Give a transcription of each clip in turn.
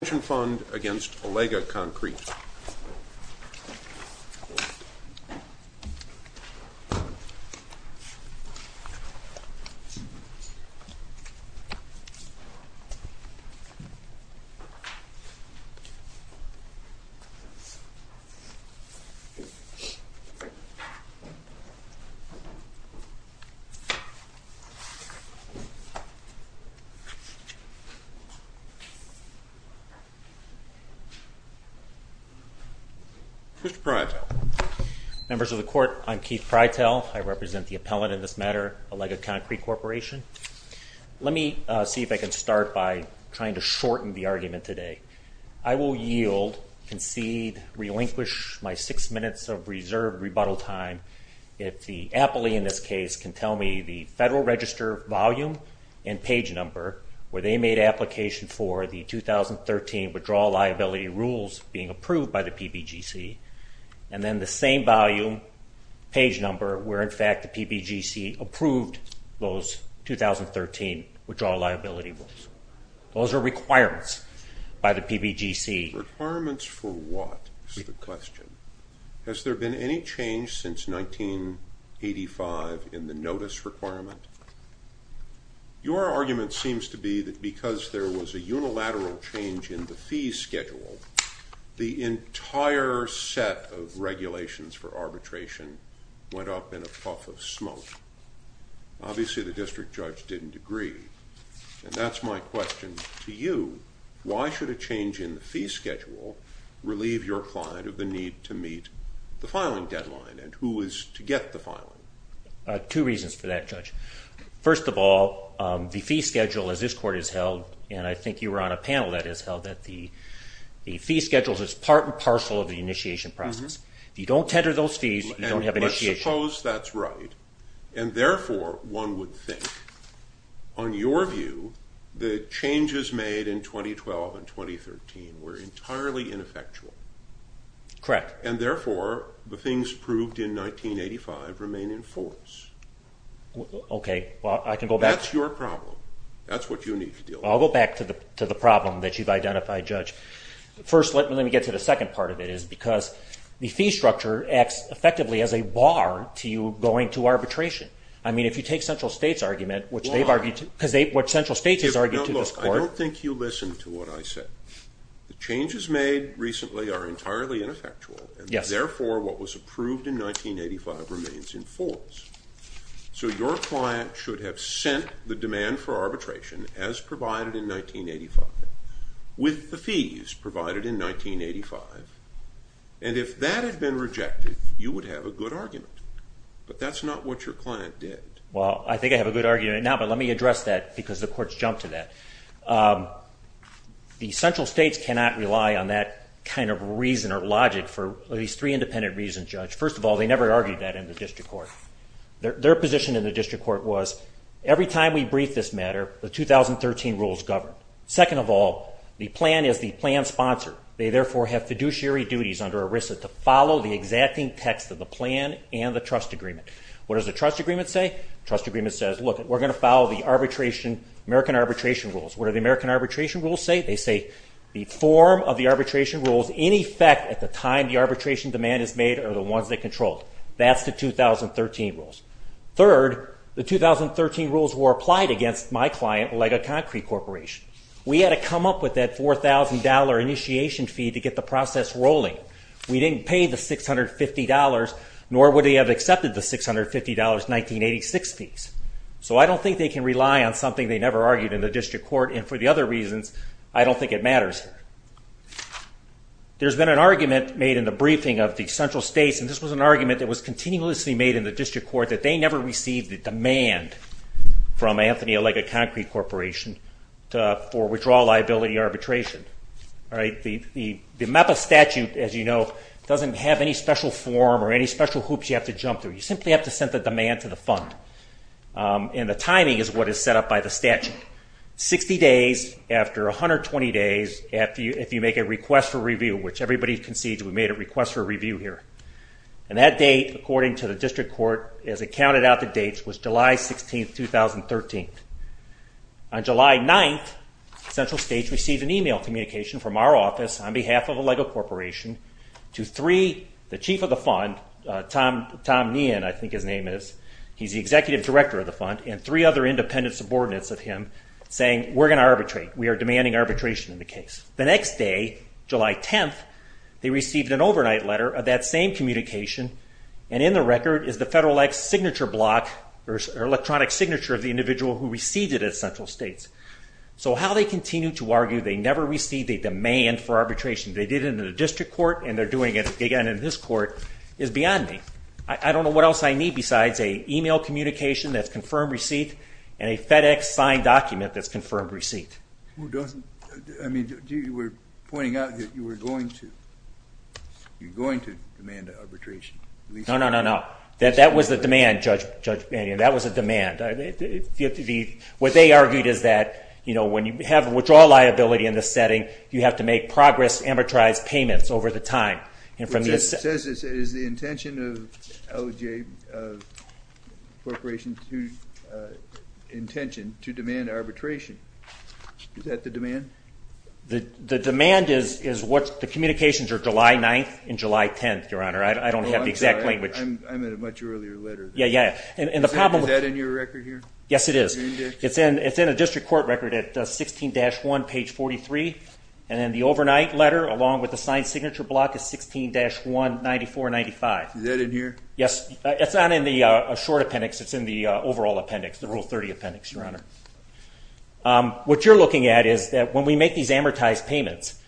pension fund against Allega Concrete. Mr. Prytel. Members of the Court, I'm Keith Prytel. I represent the appellant in this matter, Allega Concrete Corporation. Let me see if I can start by trying to shorten the argument today. I will yield, concede, relinquish my six minutes of reserve rebuttal time if the appellee in this case can tell me the Federal Register volume and page number where they made application for the 2013 Withdrawal Liability Rules being approved by the PBGC, and then the same volume, page number, where in fact the PBGC approved those 2013 Withdrawal Liability Rules. Those are requirements by the PBGC. Requirements for what, is the question. Has there been any change since 1985 in the notice requirement? Your argument seems to be that because there was a unilateral change in the fee schedule, the entire set of regulations for arbitration went up in a puff of smoke. Obviously the district judge didn't agree, and that's my question to you. Why should a change in the fee schedule relieve your client of the need to meet the filing deadline, and who is to get the filing? Two reasons for that, Judge. First of all, the fee schedule as this Court has held, and I think you were on a panel that has held that the fee schedule is part and parcel of the initiation process. If you don't tender those fees, you don't have initiation. And let's suppose that's right, and therefore one would think, on your view, the changes made in 2012 and 2013 were entirely ineffectual. Correct. And therefore, the things proved in 1985 remain in force. Okay, well I can go back. That's your problem. That's what you need to deal with. Well, I'll go back to the problem that you've identified, Judge. First, let me get to the second part of it, is because the fee structure acts effectively as a bar to you going to arbitration. I mean, if you take Central States' argument, which Central States has argued to this Court. Now look, I don't think you listened to what I said. The changes made recently are entirely ineffectual, and therefore what was approved in 1985 remains in force. So your client should have sent the demand for arbitration, as provided in 1985, with the fees provided in 1985. And if that had been rejected, you would have a good argument. But that's not what your client did. Well, I think I have a good argument now, but let me address that, because the Court's jumped to that. The Central States cannot rely on that kind of reason or logic for at least three independent reasons, Judge. First of all, they never argued that in the District Court. Their position in the District Court was, every time we brief this matter, the 2013 rules govern. Second of all, the plan is the plan's sponsor. They therefore have fiduciary duties under ERISA to follow the exacting text of the plan and the trust agreement. What does the trust agreement say? The trust agreement says, look, we're going to follow the arbitration, American arbitration rules. What do the American arbitration rules say? They say the form of the arbitration rules, in effect, at the time the arbitration demand is made, are the ones that control it. That's the 2013 rules. Third, the 2013 rules were applied against my client, Olega Concrete Corporation. We had to come up with that $4,000 initiation fee to get the process rolling. We didn't pay the $650, nor would they have accepted the $650 1986 fees. So I don't think they can rely on something they never argued in the District Court. And for the other reasons, I don't think it matters. There's been an argument made in the briefing of the central states, and this was an argument that was continuously made in the District Court, that they never received the demand from Anthony Olega Concrete Corporation for withdrawal liability arbitration. The MEPA statute, as you know, doesn't have any special form or any special hoops you have to jump through. You simply have to send the demand to the fund. And the timing is what is set up by the statute. Sixty days after 120 days, if you make a request for review, which everybody concedes we made a request for review here. And that date, according to the District Court, as it counted out the dates, was July 16th, 2013. On July 9th, central states received an e-mail communication from our office, on behalf of Olega Corporation, to three, the chief of the fund, Tom Nien, I think his name is. He's the executive director of the fund, and three other independent subordinates of him, saying we're going to arbitrate. We are demanding arbitration in the case. The next day, July 10th, they received an overnight letter of that same communication, and in the record is the Federal Act signature block, or electronic signature of the individual who received it at central states. So how they continue to argue they never received a demand for arbitration, they did it in the District Court, and they're doing it again in this court, is beyond me. I don't know what else I need besides an e-mail communication that's confirmed receipt, and a FedEx signed document that's confirmed receipt. Who doesn't? I mean, you were pointing out that you were going to demand arbitration. No, no, no, no. That was the demand, Judge Mannion. That was the demand. What they argued is that when you have withdrawal liability in this setting, you have to make progress amortized payments over the time. It says it is the intention of OJ Corporation to demand arbitration. Is that the demand? The demand is what the communications are July 9th and July 10th, Your Honor. I don't have the exact language. I'm at a much earlier letter. Yeah, yeah. Is that in your record here? Yes, it is. It's in a District Court record at 16-1, page 43, and then the overnight letter along with the signed signature block is 16-1, 94-95. Is that in here? Yes. It's not in the short appendix. It's in the overall appendix, the Rule 30 appendix, Your Honor. What you're looking at is that when we make these amortized payments,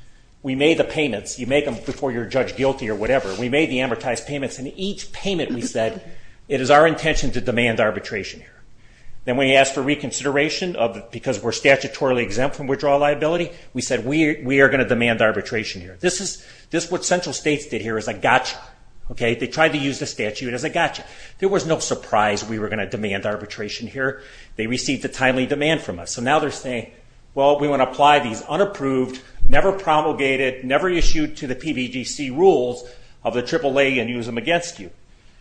we made the payments. You make them before you're judged guilty or whatever. We made the amortized payments, and each payment we said, it is our intention to demand arbitration. Then when you ask for reconsideration because we're statutorily exempt from we are going to demand arbitration here. This is what central states did here as a gotcha. They tried to use the statute as a gotcha. There was no surprise we were going to demand arbitration here. They received a timely demand from us. So now they're saying, well, we want to apply these unapproved, never promulgated, never issued to the PBGC rules of the AAA and use them against you.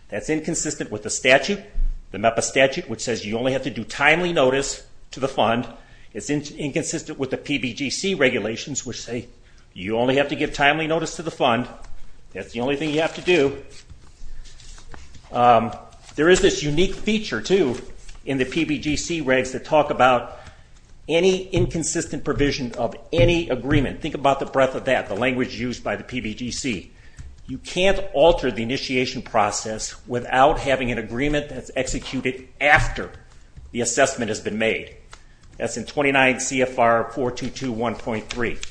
That's inconsistent with the statute, the MEPA statute, which says you only have to do timely notice to the fund. It's inconsistent with the PBGC regulations, which say you only have to give timely notice to the fund. That's the only thing you have to do. There is this unique feature, too, in the PBGC regs that talk about any inconsistent provision of any agreement. Think about the breadth of that, the language used by the PBGC. You can't alter the initiation process without having an agreement that's executed after the assessment has been made. That's in 29 CFR 422.1.3.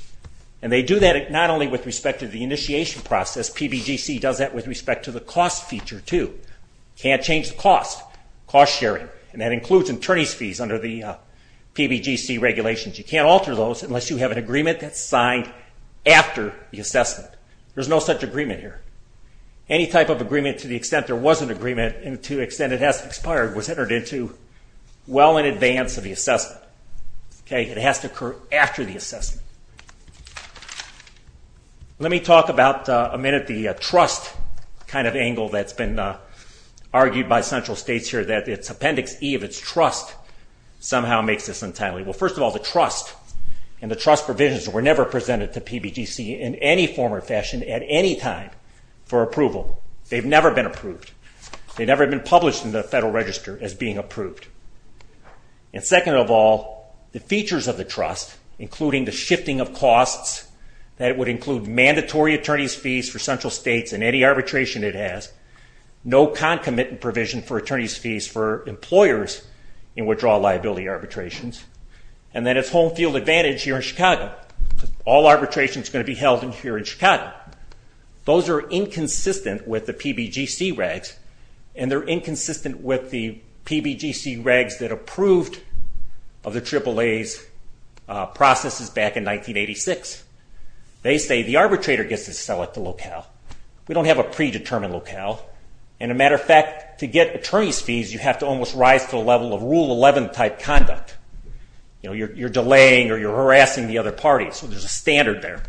And they do that not only with respect to the initiation process. PBGC does that with respect to the cost feature, too. Can't change the cost, cost sharing, and that includes attorney's fees under the PBGC regulations. You can't alter those unless you have an agreement that's signed after the assessment. There's no such agreement here. Any type of agreement to the extent there was an agreement and to the extent it has expired was entered into well in advance of the assessment. It has to occur after the assessment. Let me talk about a minute the trust kind of angle that's been argued by central states here, that its appendix E of its trust somehow makes this untimely. Well, first of all, the trust and the trust provisions were never presented to PBGC in any form or fashion at any time for approval. They've never been approved. They've never been published in the Federal Register as being approved. And second of all, the features of the trust, including the shifting of costs, that it would include mandatory attorney's fees for central states in any arbitration it has, no concomitant provision for attorney's fees for employers in withdrawal liability arbitrations, and then its home field advantage here in Chicago. All arbitration is going to be held here in Chicago. Those are inconsistent with the PBGC regs, and they're inconsistent with the PBGC regs that approved of the AAA's processes back in 1986. They say the arbitrator gets to select the locale. We don't have a predetermined locale. And a matter of fact, to get attorney's fees, you have to almost rise to the level of Rule 11-type conduct. You're delaying or you're harassing the other party, so there's a standard there.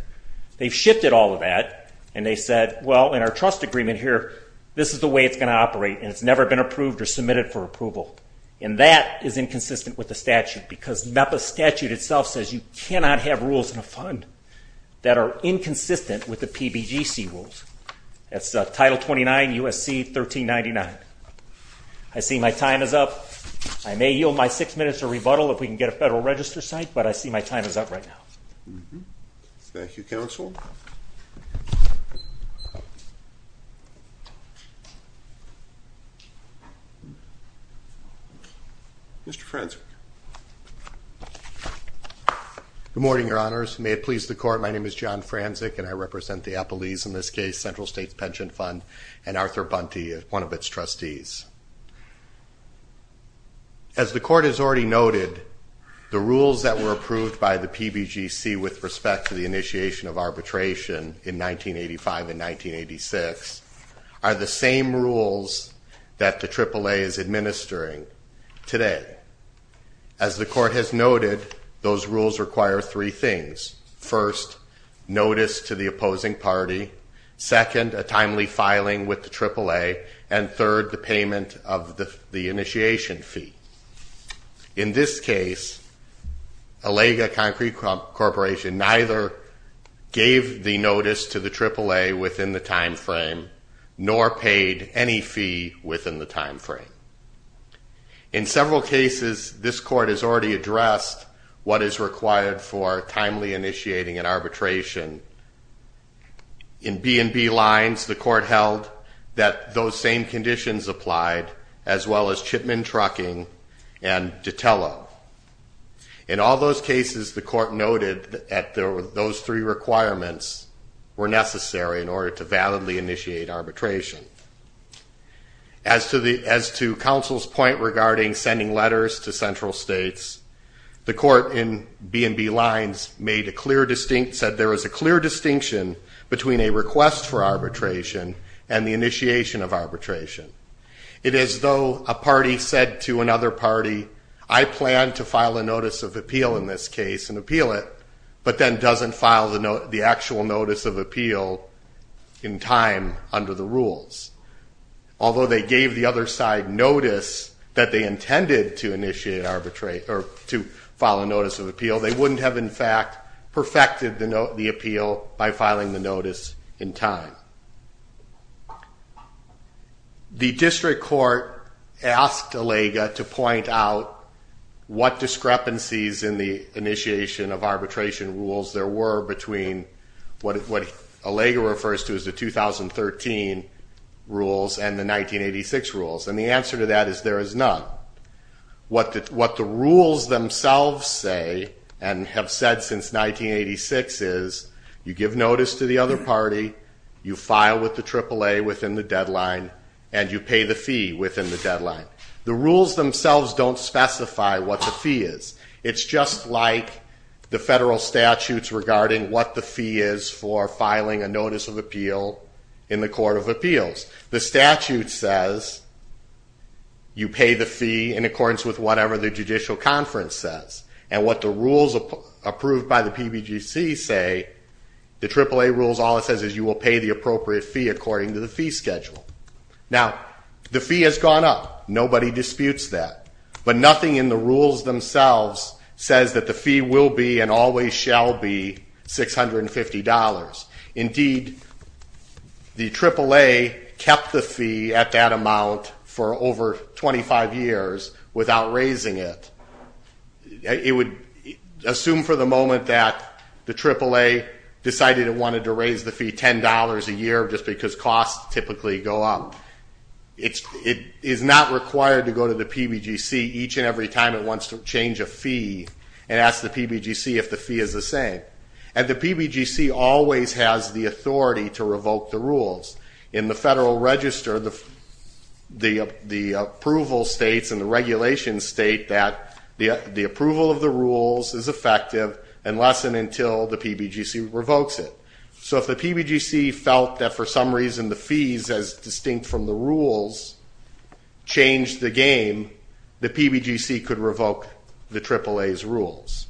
They've shifted all of that, and they said, well, in our trust agreement here, this is the way it's going to operate, and it's never been approved or submitted for approval. And that is inconsistent with the statute because NEPA statute itself says you cannot have rules in a fund that are inconsistent with the PBGC rules. That's Title 29, USC 1399. I see my time is up. I may yield my six minutes to rebuttal if we can get a Federal Register site, but I see my time is up right now. Thank you, Counsel. Mr. Franczik. Good morning, Your Honors. May it please the Court, my name is John Franczik, and I represent the Appalese, in this case, Central States Pension Fund, and Arthur Bunty is one of its trustees. As the Court has already noted, the rules that were approved by the PBGC with respect to the initiation of arbitration in 1985 and 1986 are the same rules that the AAA is administering today. As the Court has noted, those rules require three things. First, notice to the opposing party. Second, a timely filing with the AAA. And third, the payment of the initiation fee. In this case, ALEGA Concrete Corporation neither gave the notice to the AAA within the time frame nor paid any fee within the time frame. In several cases, this Court has already addressed what is required for timely initiating an arbitration. In B&B lines, the Court held that those same conditions applied, as well as Chipman Trucking and Datela. In all those cases, the Court noted that those three requirements were necessary in order to validly initiate arbitration. As to Counsel's point regarding sending letters to central states, the Court in B&B lines said there is a clear distinction between a request for arbitration and the initiation of arbitration. It is as though a party said to another party, I plan to file a notice of appeal in this case and appeal it, but then doesn't file the actual notice of appeal in time under the rules. Although they gave the other side notice that they intended to file a notice of appeal, they wouldn't have in fact perfected the appeal by filing the notice in time. The District Court asked ALEGA to point out what discrepancies in the initiation of arbitration rules there were between what ALEGA refers to as the 2013 rules and the 1986 rules. The answer to that is there is none. What the rules themselves say and have said since 1986 is you give notice to the other party, you file with the AAA within the deadline, and you pay the fee within the deadline. The rules themselves don't specify what the fee is. It's just like the federal statutes regarding what the fee is for filing a notice of appeal in the Court of Appeals. The statute says you pay the fee in accordance with whatever the judicial conference says. And what the rules approved by the PBGC say, the AAA rules, all it says is you will pay the appropriate fee according to the fee schedule. Now, the fee has gone up. Nobody disputes that. But nothing in the rules themselves says that the fee will be and always shall be $650. Indeed, the AAA kept the fee at that amount for over 25 years without raising it. It would assume for the moment that the AAA decided it wanted to raise the fee $10 a year just because costs typically go up. It is not required to go to the PBGC each and every time it wants to change a fee and ask the PBGC if the fee is the same. And the PBGC always has the authority to revoke the rules. In the Federal Register, the approval states and the regulations state that the approval of the rules is effective unless and until the PBGC revokes it. So if the PBGC felt that for some reason the fees, as distinct from the rules, changed the game, the PBGC could revoke the AAA's rules.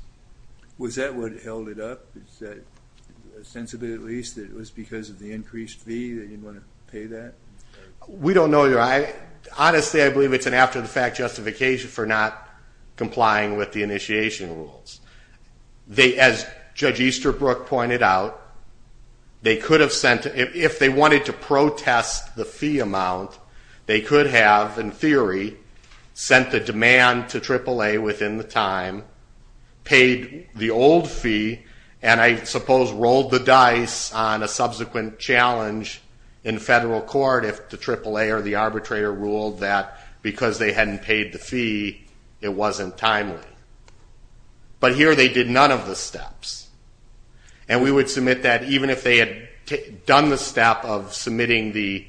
Was that what held it up? Is that a sense of it, at least, that it was because of the increased fee that you didn't want to pay that? We don't know. Honestly, I believe it's an after-the-fact justification for not complying with the initiation rules. As Judge Easterbrook pointed out, if they wanted to protest the fee amount, they could have, in theory, sent the demand to AAA within the time, paid the old fee, and I suppose rolled the dice on a subsequent challenge in federal court if the AAA or the arbitrator ruled that because they hadn't paid the fee, it wasn't timely. But here they did none of the steps. And we would submit that even if they had done the step of submitting the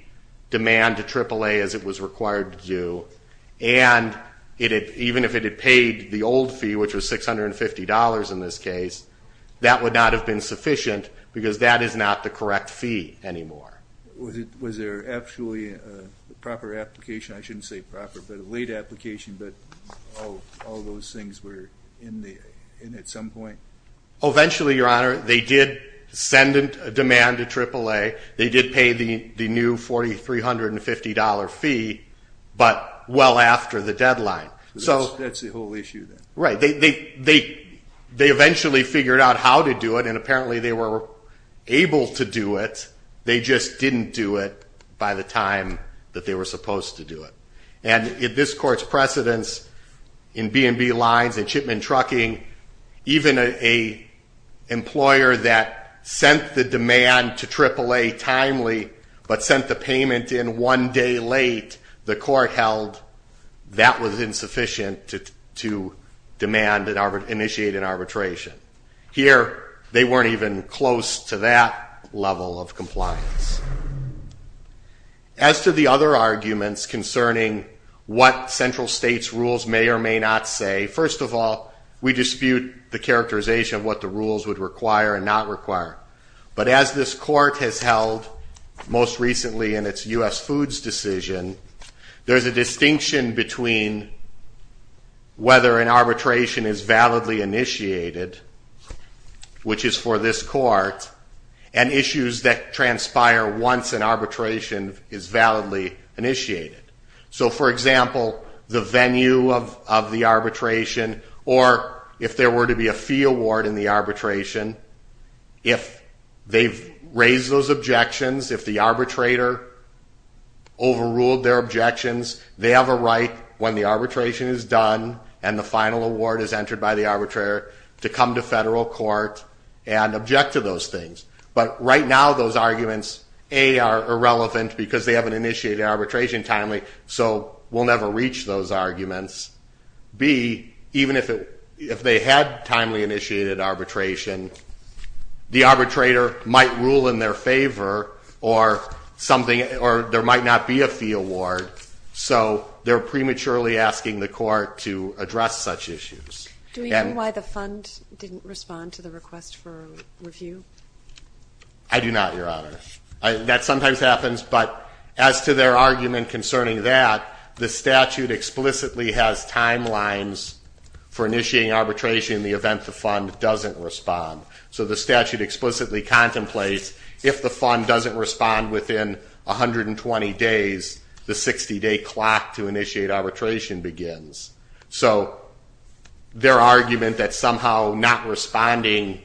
demand to AAA as it was required to do, and even if it had paid the old fee, which was $650 in this case, that would not have been sufficient because that is not the correct fee anymore. Was there actually a proper application? I shouldn't say proper, but a late application, but all those things were in at some point? Eventually, Your Honor, they did send a demand to AAA. They did pay the new $4350 fee, but well after the deadline. That's the whole issue then. Right. They eventually figured out how to do it, and apparently they were able to do it, they just didn't do it by the time that they were supposed to do it. And if this Court's precedence in B&B lines and shipment trucking, even an employer that sent the demand to AAA timely, but sent the payment in one day late, the Court held that was insufficient to demand and initiate an arbitration. Here they weren't even close to that level of compliance. As to the other arguments concerning what central states' rules may or may not say, first of all, we dispute the characterization of what the rules would require and not require. But as this Court has held most recently in its U.S. Foods decision, there's a distinction between whether an arbitration is validly initiated, which is for this Court, and issues that transpire once an arbitration is validly initiated. So, for example, the venue of the arbitration, or if there were to be a fee award in the arbitration, if they've raised those objections, if the arbitrator overruled their objections, they have a right, when the arbitration is done and the final award is entered by the arbitrator, to come to federal court and object to those things. But right now those arguments, A, are irrelevant because they haven't initiated the arbitration timely, so we'll never reach those arguments. B, even if they had timely initiated arbitration, the arbitrator might rule in their favor or there might not be a fee award, so they're prematurely asking the court to address such issues. Do we know why the fund didn't respond to the request for review? I do not, Your Honor. That sometimes happens, but as to their argument concerning that, the statute explicitly has timelines for initiating arbitration in the event the fund doesn't respond. So the statute explicitly contemplates if the fund doesn't respond within 120 days, the 60-day clock to initiate arbitration begins. So their argument that somehow not responding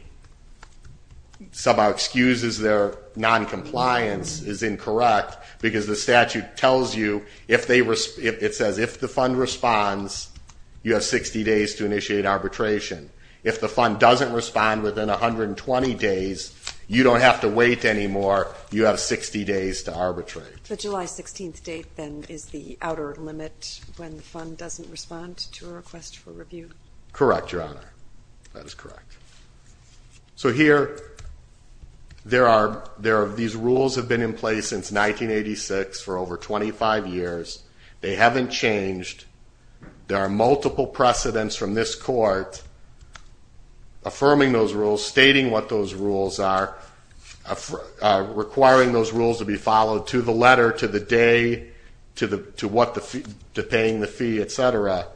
somehow excuses their noncompliance is incorrect because the statute tells you, it says if the fund responds, you have 60 days to initiate arbitration. If the fund doesn't respond within 120 days, you don't have to wait anymore. You have 60 days to arbitrate. The July 16th date then is the outer limit when the fund doesn't respond to a request for review? Correct, Your Honor. That is correct. So here, these rules have been in place since 1986 for over 25 years. They haven't changed. There are multiple precedents from this court affirming those rules, stating what those rules are, requiring those rules to be followed to the letter, to the day, to paying the fee, et cetera.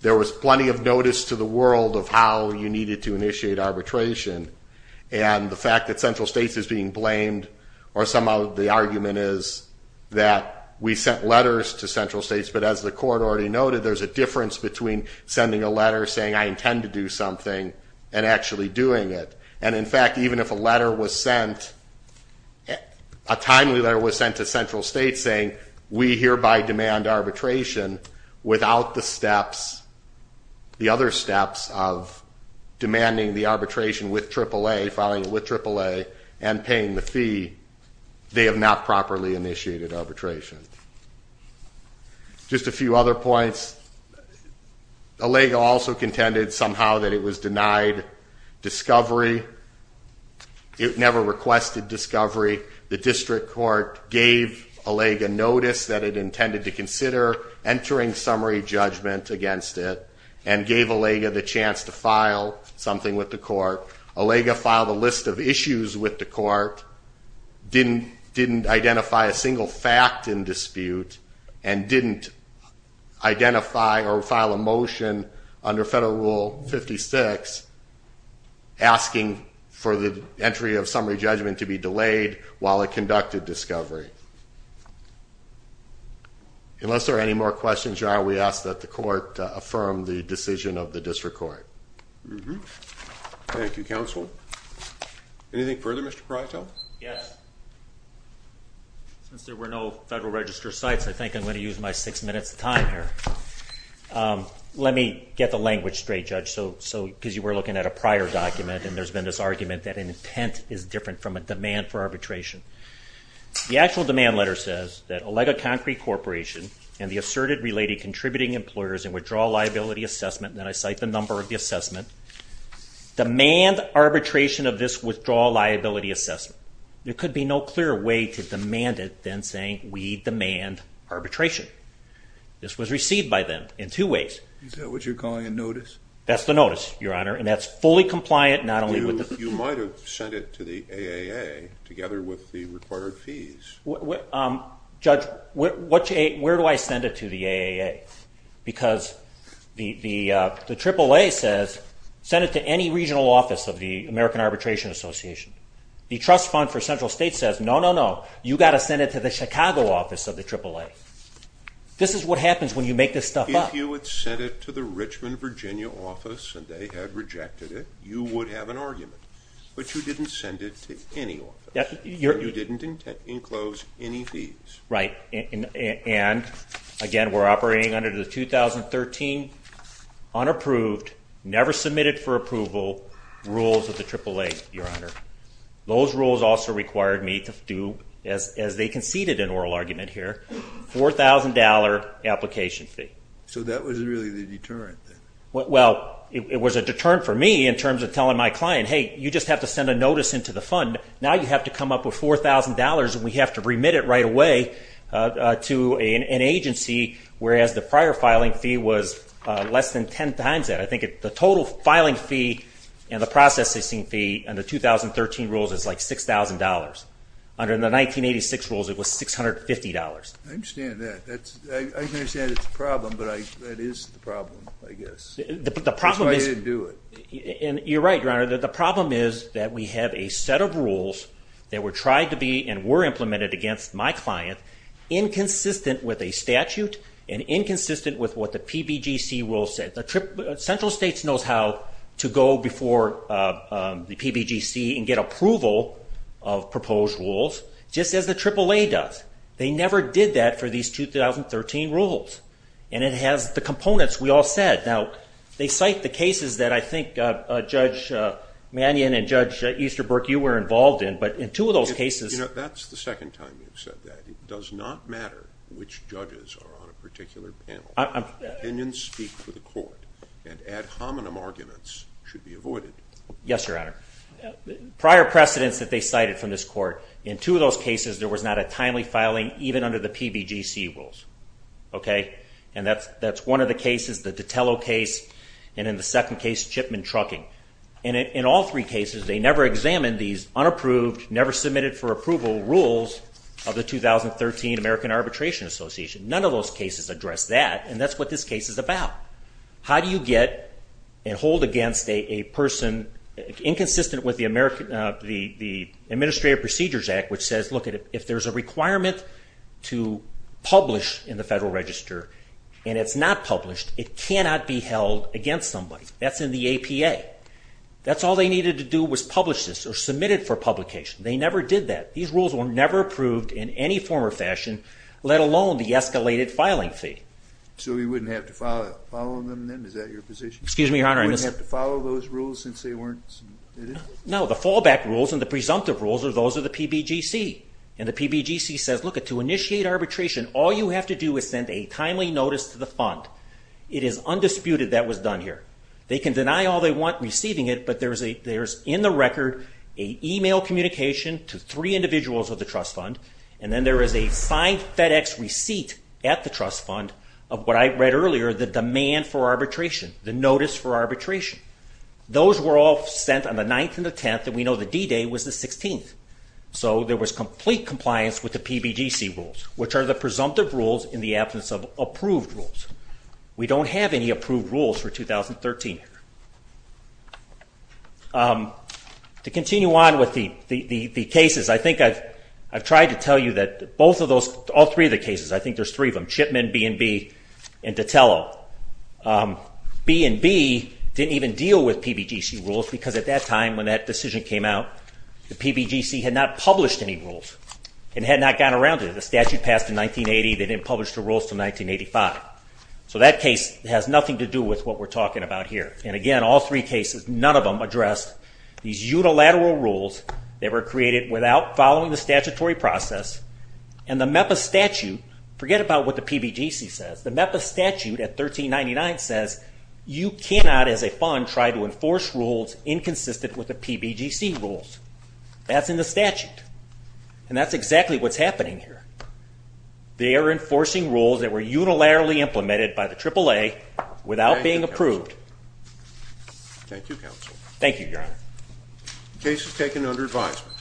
There was plenty of notice to the world of how you needed to initiate arbitration, and the fact that central states is being blamed, or somehow the argument is that we sent letters to central states, but as the court already noted, there's a difference between sending a letter saying, I intend to do something and actually doing it. And in fact, even if a letter was sent, a timely letter was sent to central states saying, we hereby demand arbitration without the steps, the other steps of demanding the arbitration with AAA, following it with AAA, and paying the fee. They have not properly initiated arbitration. Just a few other points. ALEGA also contended somehow that it was denied discovery. It never requested discovery. The district court gave ALEGA notice that it intended to consider entering summary judgment against it, and gave ALEGA the chance to file something with the court. ALEGA filed a list of issues with the court, didn't identify a single fact in dispute, and didn't identify or file a motion under Federal Rule 56 asking for the while it conducted discovery. Unless there are any more questions, we ask that the court affirm the decision of the district court. Thank you, counsel. Anything further, Mr. Prytel? Yes. Since there were no Federal Register sites, I think I'm going to use my six minutes of time here. Let me get the language straight, Judge, because you were looking at a prior document, and there's been this argument that an intent is different from a demand for arbitration. The actual demand letter says that ALEGA Concrete Corporation and the asserted related contributing employers in withdrawal liability assessment, and then I cite the number of the assessment, demand arbitration of this withdrawal liability assessment. There could be no clearer way to demand it than saying, we demand arbitration. This was received by them in two ways. Is that what you're calling a notice? That's the notice, Your Honor, and that's fully compliant not only with the You might have sent it to the AAA together with the required fees. Judge, where do I send it to the AAA? Because the AAA says send it to any regional office of the American Arbitration Association. The Trust Fund for Central States says, no, no, no. You've got to send it to the Chicago office of the AAA. This is what happens when you make this stuff up. If you had sent it to the Richmond, Virginia office, and they had rejected it, you would have an argument. But you didn't send it to any office. You didn't enclose any fees. Right. And, again, we're operating under the 2013 unapproved, never submitted for approval rules of the AAA, Your Honor. Those rules also required me to do, as they conceded an oral argument here, $4,000 application fee. So that was really the deterrent then? Well, it was a deterrent for me in terms of telling my client, hey, you just have to send a notice into the fund. Now you have to come up with $4,000, and we have to remit it right away to an agency, whereas the prior filing fee was less than ten times that. I think the total filing fee and the processing fee under the 2013 rules is like $6,000. Under the 1986 rules it was $650. I understand that. I understand it's a problem, but that is the problem, I guess. That's why I didn't do it. You're right, Your Honor. The problem is that we have a set of rules that were tried to be and were implemented against my client inconsistent with a statute and inconsistent with what the PBGC rules said. Central States knows how to go before the PBGC and get approval of proposed rules, just as the AAA does. They never did that for these 2013 rules, and it has the components we all said. Now they cite the cases that I think Judge Mannion and Judge Easterbrook, you were involved in, but in two of those cases. That's the second time you've said that. It does not matter which judges are on a particular panel. Opinions speak for the court, and ad hominem arguments should be avoided. Yes, Your Honor. Prior precedents that they cited from this court, in two of those cases there was not a timely filing, even under the PBGC rules. And that's one of the cases, the Ditello case, and in the second case, Chipman Trucking. In all three cases, they never examined these unapproved, never submitted for approval rules of the 2013 American Arbitration Association. None of those cases address that, and that's what this case is about. How do you get and hold against a person inconsistent with the Administrative Procedures Act, which says, look, if there's a requirement to publish in the Federal Register and it's not published, it cannot be held against somebody. That's in the APA. That's all they needed to do was publish this or submit it for publication. They never did that. These rules were never approved in any form or fashion, let alone the escalated filing fee. So we wouldn't have to follow them then? Is that your position? Excuse me, Your Honor. You wouldn't have to follow those rules since they weren't submitted? No. The fallback rules and the presumptive rules are those of the PBGC. And the PBGC says, look, to initiate arbitration, all you have to do is send a timely notice to the fund. It is undisputed that was done here. They can deny all they want receiving it, but there is in the record an e-mail communication to three individuals of the trust fund, and then there is a signed FedEx receipt at the trust fund of what I read earlier, the demand for arbitration, the notice for arbitration. Those were all sent on the 9th and the 10th, and we know the D-Day was the 16th. So there was complete compliance with the PBGC rules, which are the presumptive rules in the absence of approved rules. We don't have any approved rules for 2013 here. To continue on with the cases, I think I've tried to tell you that all three of the cases, I think there's three of them, B and B didn't even deal with PBGC rules because at that time when that decision came out, the PBGC had not published any rules and had not gone around it. The statute passed in 1980. They didn't publish the rules until 1985. So that case has nothing to do with what we're talking about here. And again, all three cases, none of them addressed these unilateral rules that were created without following the statutory process, and the MEPA statute, forget about what the PBGC says. The MEPA statute at 1399 says you cannot, as a fund, try to enforce rules inconsistent with the PBGC rules. That's in the statute, and that's exactly what's happening here. They are enforcing rules that were unilaterally implemented by the AAA without being approved. Thank you, Counsel. Thank you, Your Honor. The case is taken under advisement.